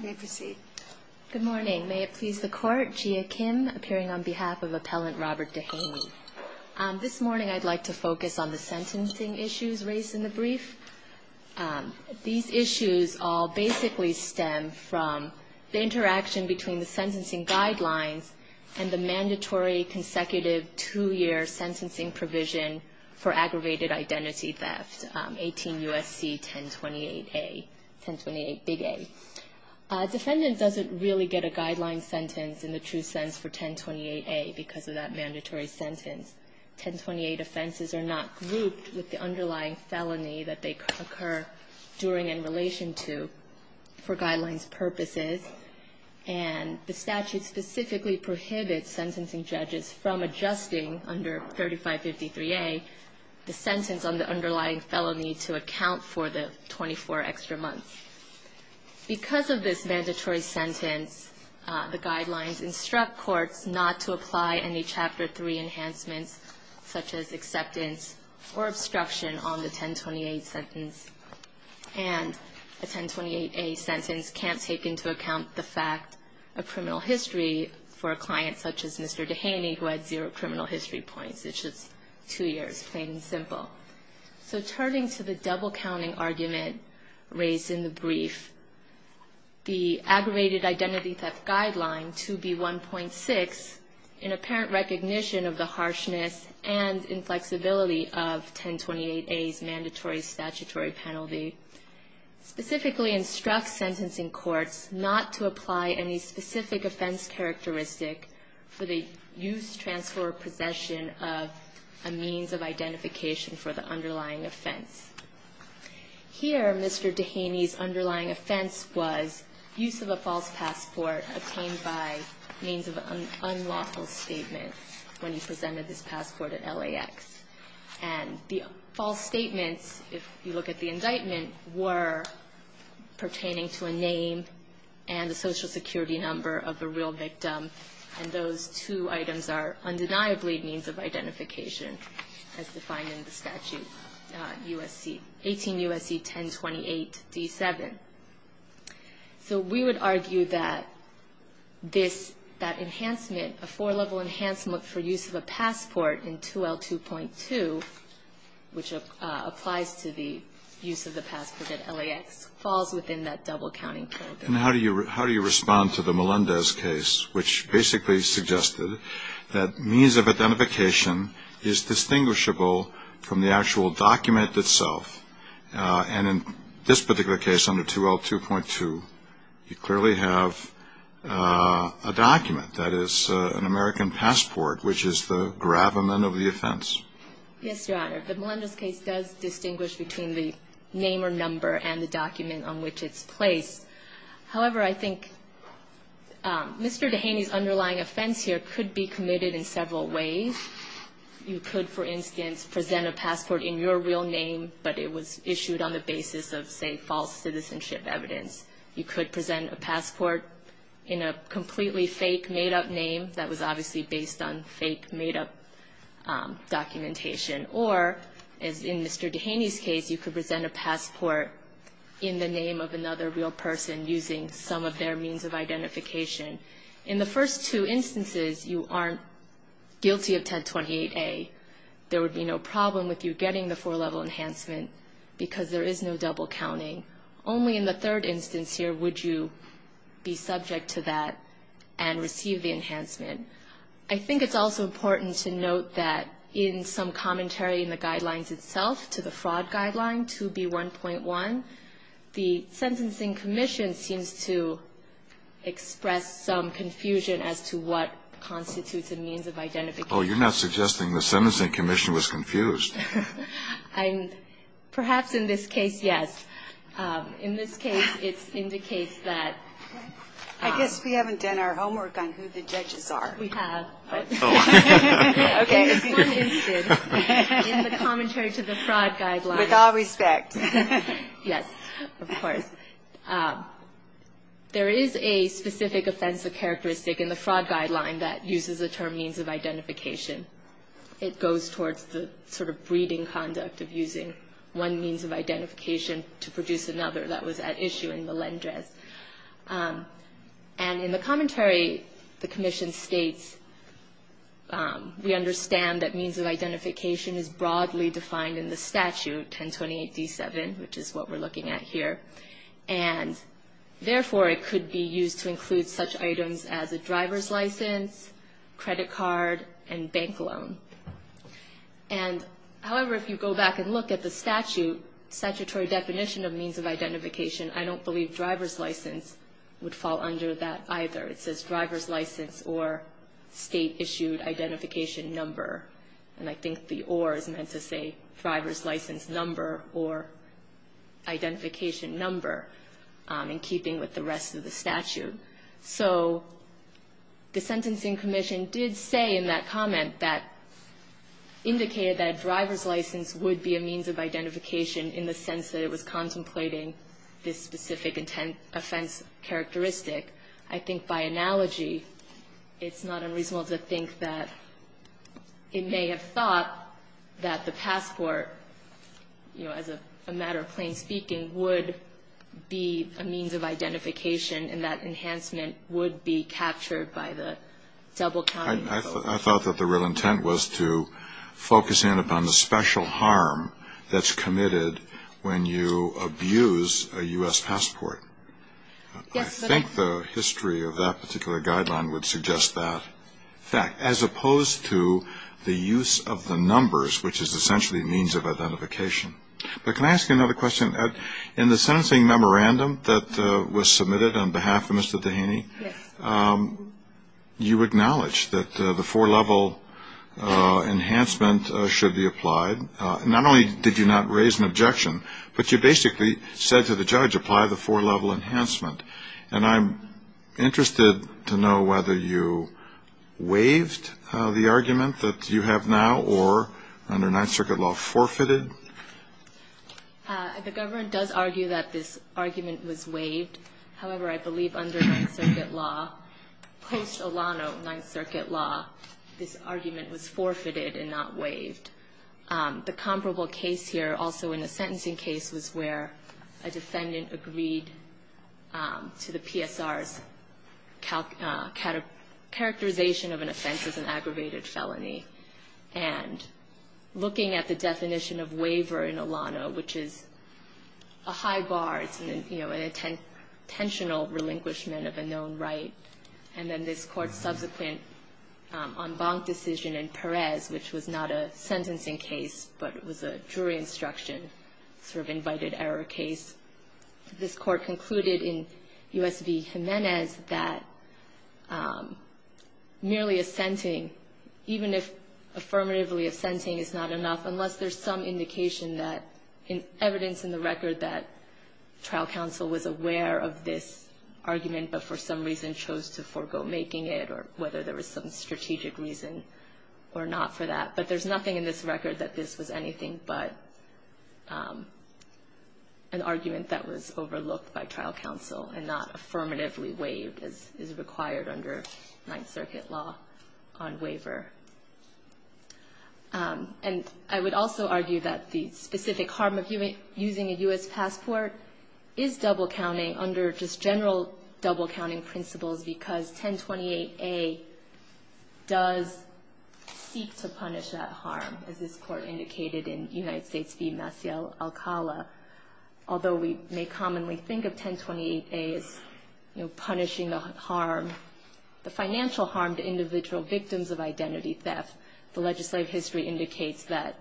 May it please the Court, Gia Kim, appearing on behalf of Appellant Robert Dehaney. This morning I'd like to focus on the sentencing issues raised in the brief. These issues all basically stem from the interaction between the sentencing guidelines and the mandatory consecutive two-year sentencing provision for aggravated identity theft, 18 U.S.C. 1028-A, 1028-Big A. A defendant doesn't really get a guideline sentence in the true sense for 1028-A because of that mandatory sentence. 1028 offenses are not grouped with the underlying felony that they occur during and in relation to for guidelines purposes. And the statute specifically prohibits sentencing judges from adjusting under 3553-A the sentence on the underlying felony to account for the 24 extra months. Because of this mandatory sentence, the guidelines instruct courts not to apply any Chapter 3 enhancements such as acceptance or obstruction on the 1028 sentence. And a 1028-A sentence can't take into account the fact of criminal history for a client such as Mr. Dehaney who had zero criminal history points, it's just two years, plain and simple. So turning to the double-counting argument raised in the brief, the aggravated identity theft guideline, 2B1.6, in apparent recognition of the harshness and inflexibility of 1028-A's mandatory statutory penalty, specifically instructs sentencing courts not to apply any specific offense characteristic for the use, transfer, or possession of a means of identification for the underlying offense. Here, Mr. Dehaney's underlying offense was use of a false passport obtained by means of an unlawful statement when he presented his passport at LAX. And the false statements, if you look at the indictment, were pertaining to a name and a social security number of the real victim, and those two items are undeniably means of identification as defined in the statute, 18 U.S.C. 1028-D7. So we would argue that this, that enhancement, a four-level enhancement for use of a passport in 2L2.2, which applies to the use of the passport at LAX, falls within that double-counting program. And how do you respond to the Melendez case, which basically suggested that means of identification is distinguishable from the actual document itself? And in this particular case under 2L2.2, you clearly have a document, that is, an American passport, which is the gravamen of the offense. Yes, Your Honor. The Melendez case does distinguish between the name or number and the document on which it's placed. However, I think Mr. Dehaney's underlying offense here could be committed in several ways. You could, for instance, present a passport in your real name, but it was issued on the basis of, say, false citizenship evidence. You could present a passport in a completely fake, made-up name that was obviously based on fake, made-up documentation. Or, as in Mr. Dehaney's case, you could present a passport in the name of another real person using some of their means of identification. In the first two instances, you aren't guilty of 1028A. There would be no problem with you getting the 4-level enhancement because there is no double-counting. Only in the third instance here would you be subject to that and receive the enhancement. I think it's also important to note that in some commentary in the Guidelines itself to the Fraud Guideline 2B1.1, the Sentencing Commission seems to express some confusion as to what constitutes a means of identification. Oh, you're not suggesting the Sentencing Commission was confused. Perhaps in this case, yes. In this case, it indicates that. I guess we haven't done our homework on who the judges are. We have. Okay. In the commentary to the Fraud Guideline. With all respect. Yes, of course. There is a specific offensive characteristic in the Fraud Guideline that uses the term means of identification. It goes towards the sort of breeding conduct of using one means of identification to produce another. That was at issue in Melendrez. And in the commentary, the Commission states, we understand that means of identification is broadly defined in the statute, 1028D7, which is what we're looking at here. And therefore, it could be used to include such items as a driver's license, credit card, and bank loan. And, however, if you go back and look at the statute, statutory definition of means of identification, I don't believe driver's license would fall under that either. It says driver's license or state-issued identification number. And I think the or is meant to say driver's license number or identification number, in keeping with the rest of the statute. So the Sentencing Commission did say in that comment that indicated that a driver's license would be a means of identification in the sense that it was contemplating this specific offense characteristic. I think by analogy, it's not unreasonable to think that it may have thought that the passport, you know, as a matter of plain speaking, would be a means of identification and that enhancement would be captured by the double counting. I thought that the real intent was to focus in upon the special harm that's committed when you abuse a U.S. passport. I think the history of that particular guideline would suggest that fact, as opposed to the use of the numbers, which is essentially a means of identification. But can I ask you another question? In the sentencing memorandum that was submitted on behalf of Mr. Dehaney, you acknowledged that the four-level enhancement should be applied. Not only did you not raise an objection, but you basically said to the judge apply the four-level enhancement. And I'm interested to know whether you waived the argument that you have now or under Ninth Circuit law forfeited. The government does argue that this argument was waived. However, I believe under Ninth Circuit law, post-Olano Ninth Circuit law, this argument was forfeited and not waived. The comparable case here also in the sentencing case was where a defendant agreed to the PSR's characterization of an offense as an aggravated felony. And looking at the definition of waiver in Olano, which is a high bar, it's an intentional relinquishment of a known right. And then this court's subsequent en banc decision in Perez, which was not a sentencing case, but it was a jury instruction, sort of invited error case. This court concluded in U.S. v. Jimenez that merely assenting, even if affirmatively assenting is not enough unless there's some indication that evidence in the record that trial counsel was aware of this argument but for some reason chose to forego making it or whether there was some strategic reason or not for that. But there's nothing in this record that this was anything but an argument that was overlooked by trial counsel and not affirmatively waived as is required under Ninth Circuit law on waiver. And I would also argue that the specific harm of using a U.S. passport is double-counting under just general double-counting principles because 1028A does seek to punish that harm, as this court indicated in United States v. Maciel Alcala. Although we may commonly think of 1028A as punishing the harm, the financial harm to individual victims of identity theft, the legislative history indicates that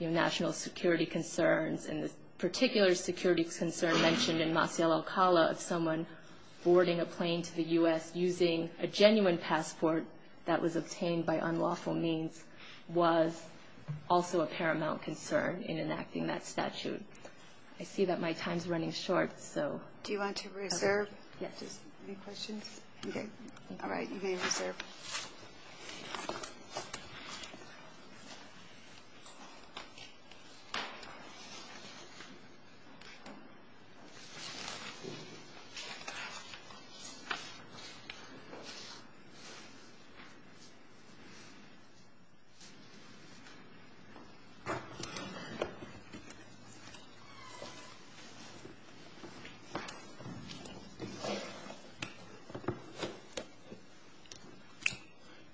national security concerns and the particular security concern mentioned in Maciel Alcala of someone boarding a plane to the U.S. using a genuine passport that was obtained by unlawful means was also a paramount concern in enacting that statute. I see that my time is running short, so... Do you want to reserve? Yes. Any questions? Okay. All right. You may reserve.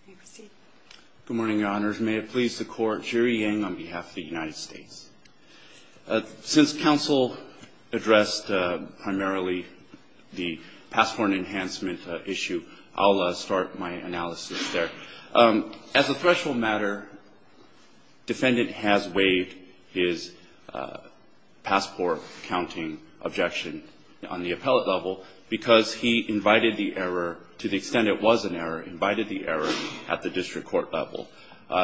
You may proceed. Good morning, Your Honors. May it please the Court. Jerry Yang on behalf of the United States. Since counsel addressed primarily the passport enhancement issue, I'll start my analysis there. As a threshold matter, defendant has waived his passport-counting objection on the appellate level because he invited the error, to the extent it was an error, invited the error at the district court level.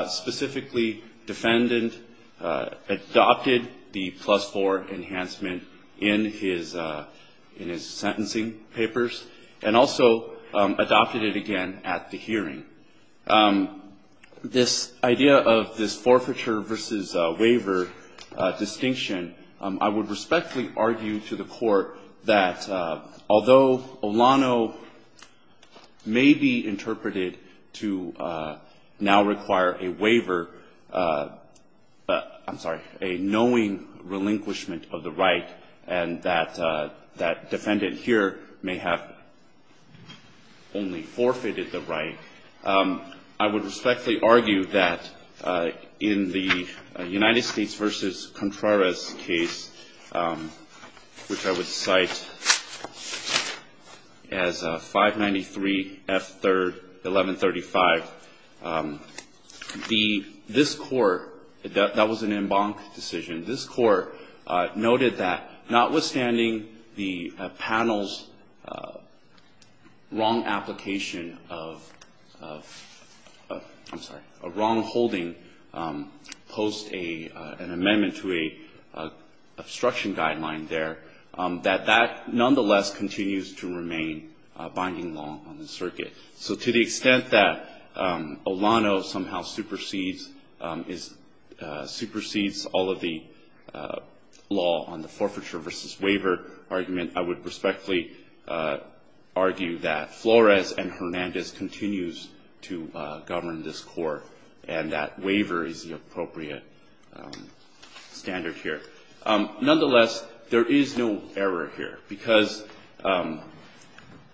Specifically, defendant adopted the plus-4 enhancement in his sentencing papers and also adopted it again at the hearing. This idea of this forfeiture versus waiver distinction, I would respectfully argue to the Court that although Olano may be interpreted to now require a waiver, I'm sorry, a knowing relinquishment of the right, and that defendant here may have only forfeited the right, I would respectfully argue that in the United States v. Contreras case, which I would cite as 593 F. 3rd, 1135, this Court, that was an en banc decision, this Court noted that notwithstanding the panel's wrong application of, I'm sorry, a wrong holding post an amendment to a obstruction guideline there, that that nonetheless continues to remain binding law on the circuit. So to the extent that Olano somehow supersedes all of the law on the forfeiture versus waiver argument, I would respectfully argue that Flores and Hernandez continues to govern this Court and that waiver is the appropriate standard here. Nonetheless, there is no error here, because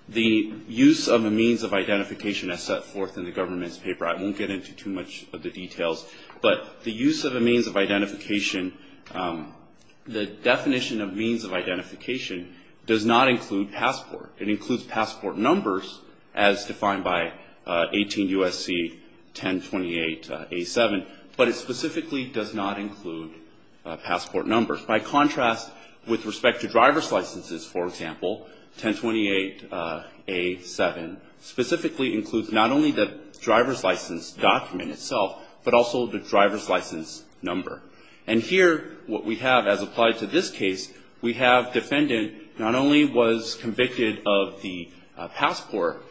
the use of a means of identification as set forth in the government's paper, I won't get into too much of the details, but the use of a means of identification, the definition of means of identification does not include passport. It includes passport numbers as defined by 18 U.S.C. 1028A7, but it specifically does not include passport numbers. By contrast, with respect to driver's licenses, for example, 1028A7 specifically includes not only the driver's license document itself, but also the driver's license number. And here what we have as applied to this case, we have defendant not only was convicted of the passport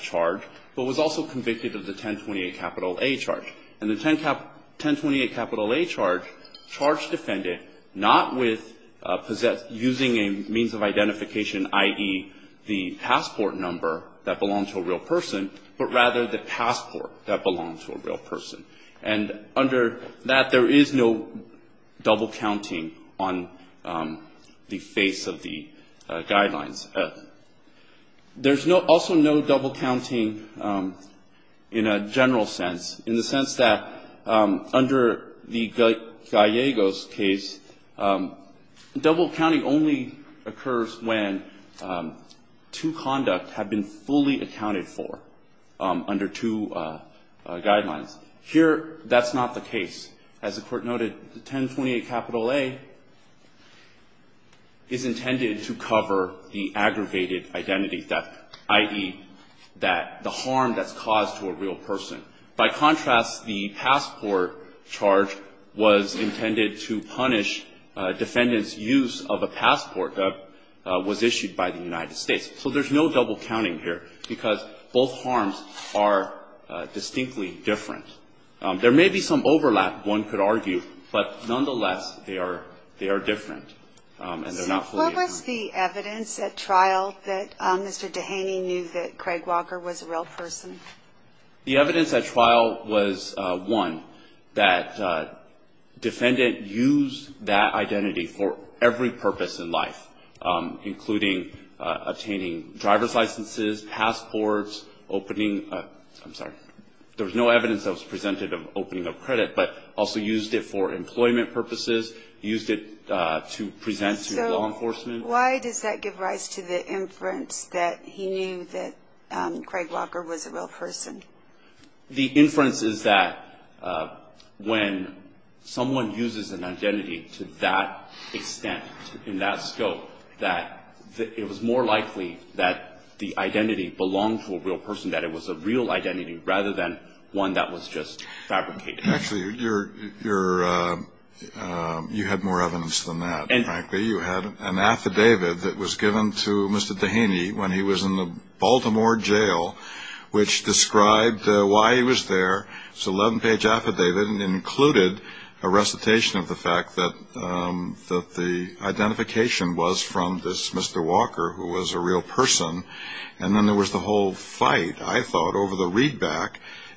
charge, but was also convicted of the 1028A charge. And the 1028A charge charged defendant not with using a means of identification, i.e., the passport number that belonged to a real person, but rather the passport that belonged to a real person. And under that, there is no double counting on the face of the guidelines. There's also no double counting in a general sense, in the sense that under the Gallegos case, double counting only occurs when two conduct have been fully accounted for under two guidelines. Here, that's not the case. As the Court noted, the 1028A is intended to cover the aggravated identity theft, i.e., that the harm that's caused to a real person. By contrast, the passport charge was intended to punish defendant's use of a passport that was issued by the United States. So there's no double counting here, because both harms are distinctly different. There may be some overlap, one could argue, but nonetheless, they are different, and they're not fully accounted for. So what was the evidence at trial that Mr. Dehaney knew that Craig Walker was a real person? The evidence at trial was, one, that defendant used that identity for every purpose in life, including attaining driver's licenses, passports, opening a – I'm sorry. There was no evidence that was presented of opening of credit, but also used it for employment purposes, used it to present to law enforcement. So why does that give rise to the inference that he knew that Craig Walker was a real person? The inference is that when someone uses an identity to that extent, in that scope, that it was more likely that the identity belonged to a real person, that it was a real identity rather than one that was just fabricated. Actually, you're – you had more evidence than that, frankly. You had an affidavit that was given to Mr. Dehaney when he was in the Baltimore jail, which described why he was there. It's an 11-page affidavit, and it included a recitation of the fact that the identification was from this Mr. Walker, who was a real person, and then there was the whole fight, I thought, over the readback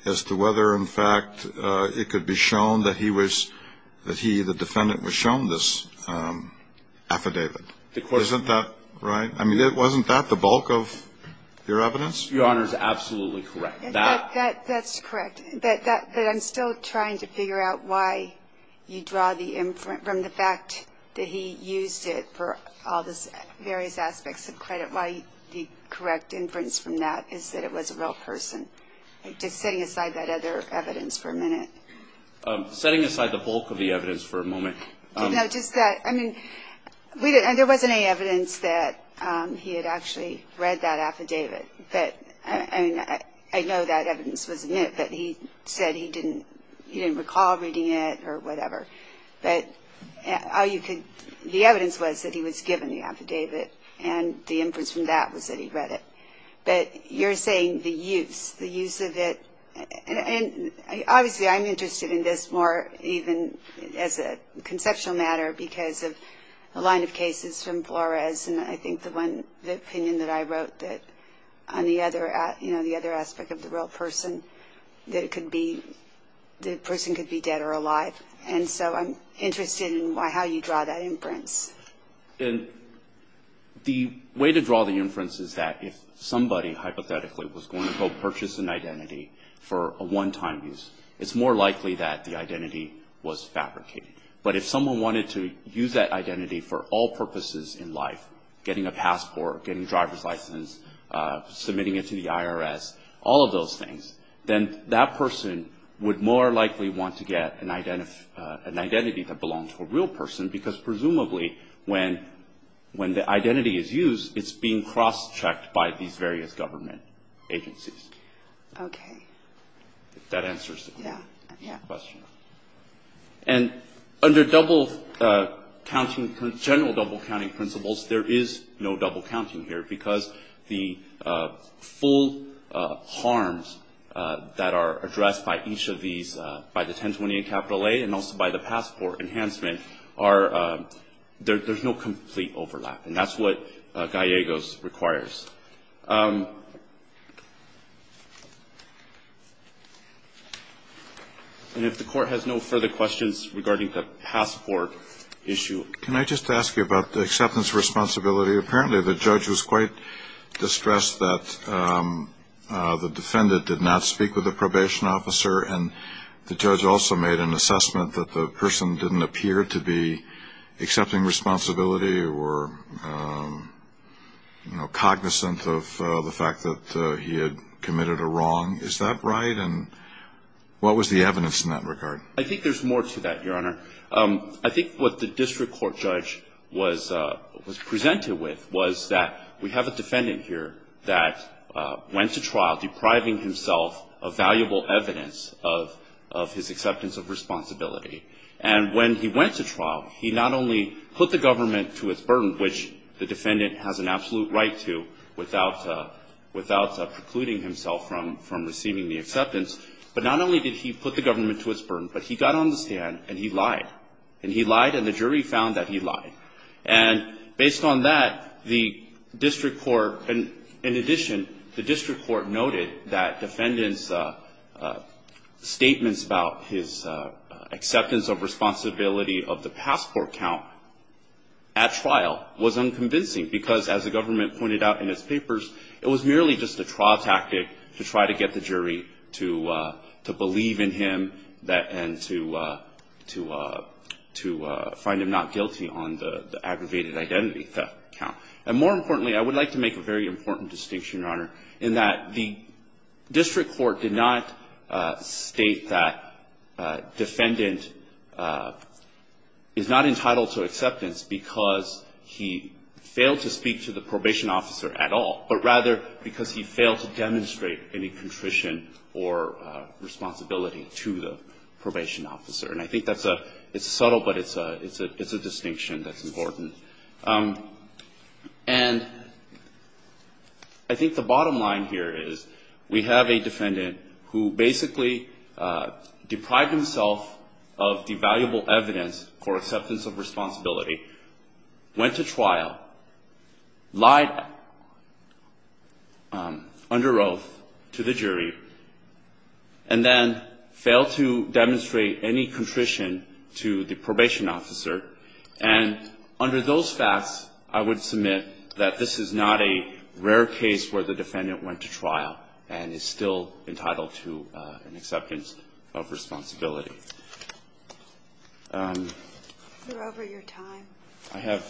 as to whether, in fact, it could be shown that he was – that he, the defendant, was shown this affidavit. Isn't that right? I mean, wasn't that the bulk of your evidence? Your Honor is absolutely correct. That – That's correct. But that – but I'm still trying to figure out why you draw the inference from the fact that he used it for all those various aspects of credit. Why the correct inference from that is that it was a real person. Just setting aside that other evidence for a minute. Setting aside the bulk of the evidence for a moment. No, just that – I mean, we didn't – there wasn't any evidence that he had actually read that affidavit. But, I mean, I know that evidence was in it, but he said he didn't – he didn't recall reading it or whatever. But all you could – the evidence was that he was given the affidavit, and the inference from that was that he read it. But you're saying the use, the use of it – and, obviously, I'm interested in this more even as a conceptual matter because of a line of cases from Flores, and I think the one – the opinion that I wrote that on the other – you know, the other aspect of the real person, that it could be – the person could be dead or alive. And so I'm interested in how you draw that inference. And the way to draw the inference is that if somebody, hypothetically, was going to go purchase an identity for a one-time use, it's more likely that the identity was fabricated. But if someone wanted to use that identity for all purposes in life – getting a passport, getting a driver's license, submitting it to the IRS, all of those things – then that person would more likely want to get an identity that belonged to a real person because, presumably, when the identity is used, it's being cross-checked by these various government agencies. Okay. If that answers the question. Yeah, yeah. And under double-counting – general double-counting principles, there is no double-counting here because the full harms that are addressed by each of these – by the 1028 A and also by the passport enhancement are – there's no complete overlap, and that's what Gallegos requires. And if the Court has no further questions regarding the passport issue. Can I just ask you about the acceptance responsibility? Apparently, the judge was quite distressed that the defendant did not speak with the probation officer, and the judge also made an assessment that the person didn't appear to be accepting responsibility or cognizant of the fact that he had committed a wrong. Is that right? And what was the evidence in that regard? I think there's more to that, Your Honor. I think what the district court judge was presented with was that we have a defendant here that went to trial depriving himself of valuable evidence of his acceptance of responsibility. And when he went to trial, he not only put the government to its burden, which the defendant has an absolute right to without precluding himself from receiving the acceptance, but not only did he put the government to its burden, but he got on the stand and he lied. And he lied, and the jury found that he lied. And based on that, the district court – in addition, the district court noted that defendant's statements about his acceptance of responsibility of the passport count at trial was unconvincing because, as the government pointed out in its papers, it was merely just a trial tactic to try to get the jury to believe in him and to find him not guilty on the aggravated identity theft count. And more importantly, I would like to make a very important distinction, Your Honor, in that the district court did not state that defendant is not entitled to acceptance because he failed to speak to the probation officer at all, but rather because he failed to demonstrate any contrition or responsibility to the probation officer. And I think that's a – it's subtle, but it's a distinction that's important. And I think the bottom line here is we have a defendant who basically deprived himself of the valuable evidence for acceptance of responsibility, went to trial, lied under oath to the jury, and then failed to demonstrate any contrition to the probation officer. And under those facts, I would submit that this is not a rare case where the defendant went to trial and is still entitled to an acceptance of responsibility. Are you over your time? I have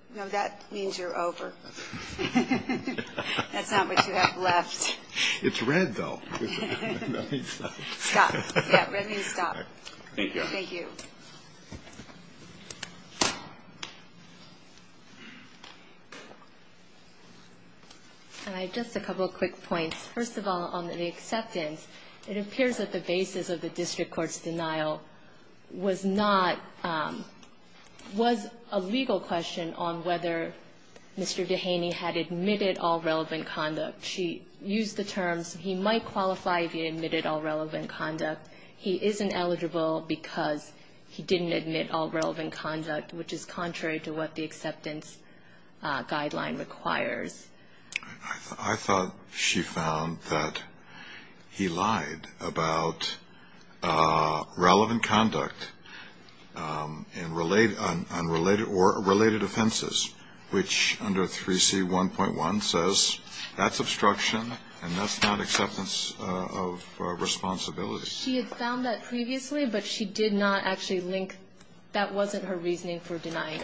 – No, that means you're over. That's not what you have left. It's red, though. Stop. Yeah, red means stop. Thank you. Thank you. Thank you. And I have just a couple of quick points. First of all, on the acceptance, it appears that the basis of the district court's denial was not – was a legal question on whether Mr. Dehaney had admitted all relevant conduct. She used the terms he might qualify if he admitted all relevant conduct. He isn't eligible because he didn't admit all relevant conduct, which is contrary to what the acceptance guideline requires. I thought she found that he lied about relevant conduct and related – or related offenses, which under 3C1.1 says that's obstruction and that's not acceptance of responsibility. She had found that previously, but she did not actually link – that wasn't her reasoning for denying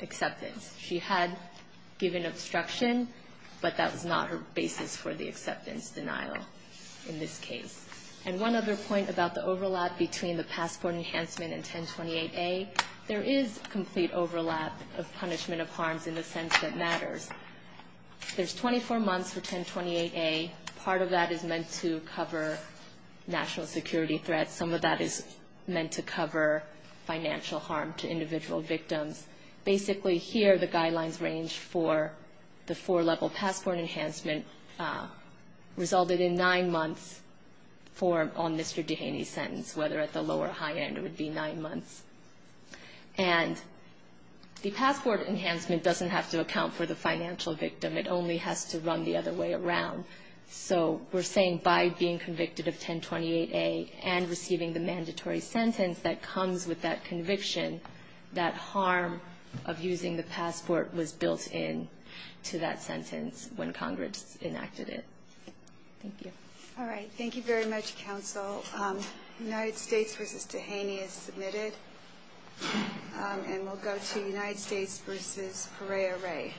acceptance. She had given obstruction, but that was not her basis for the acceptance denial in this case. And one other point about the overlap between the passport enhancement and 1028A, there is complete overlap of punishment of harms in the sense that matters. There's 24 months for 1028A. Part of that is meant to cover national security threats. Some of that is meant to cover financial harm to individual victims. Basically, here, the guidelines range for the four-level passport enhancement resulted in nine months for – on Mr. Dehaney's sentence, whether at the low or high end, it would be nine months. And the passport enhancement doesn't have to account for the financial victim. It only has to run the other way around. So we're saying by being convicted of 1028A and receiving the mandatory sentence that comes with that conviction, that harm of using the passport was built into that sentence when Congress enacted it. Thank you. All right. Thank you very much, counsel. United States v. Dehaney is submitted. And we'll go to United States v. Pereira-Rey.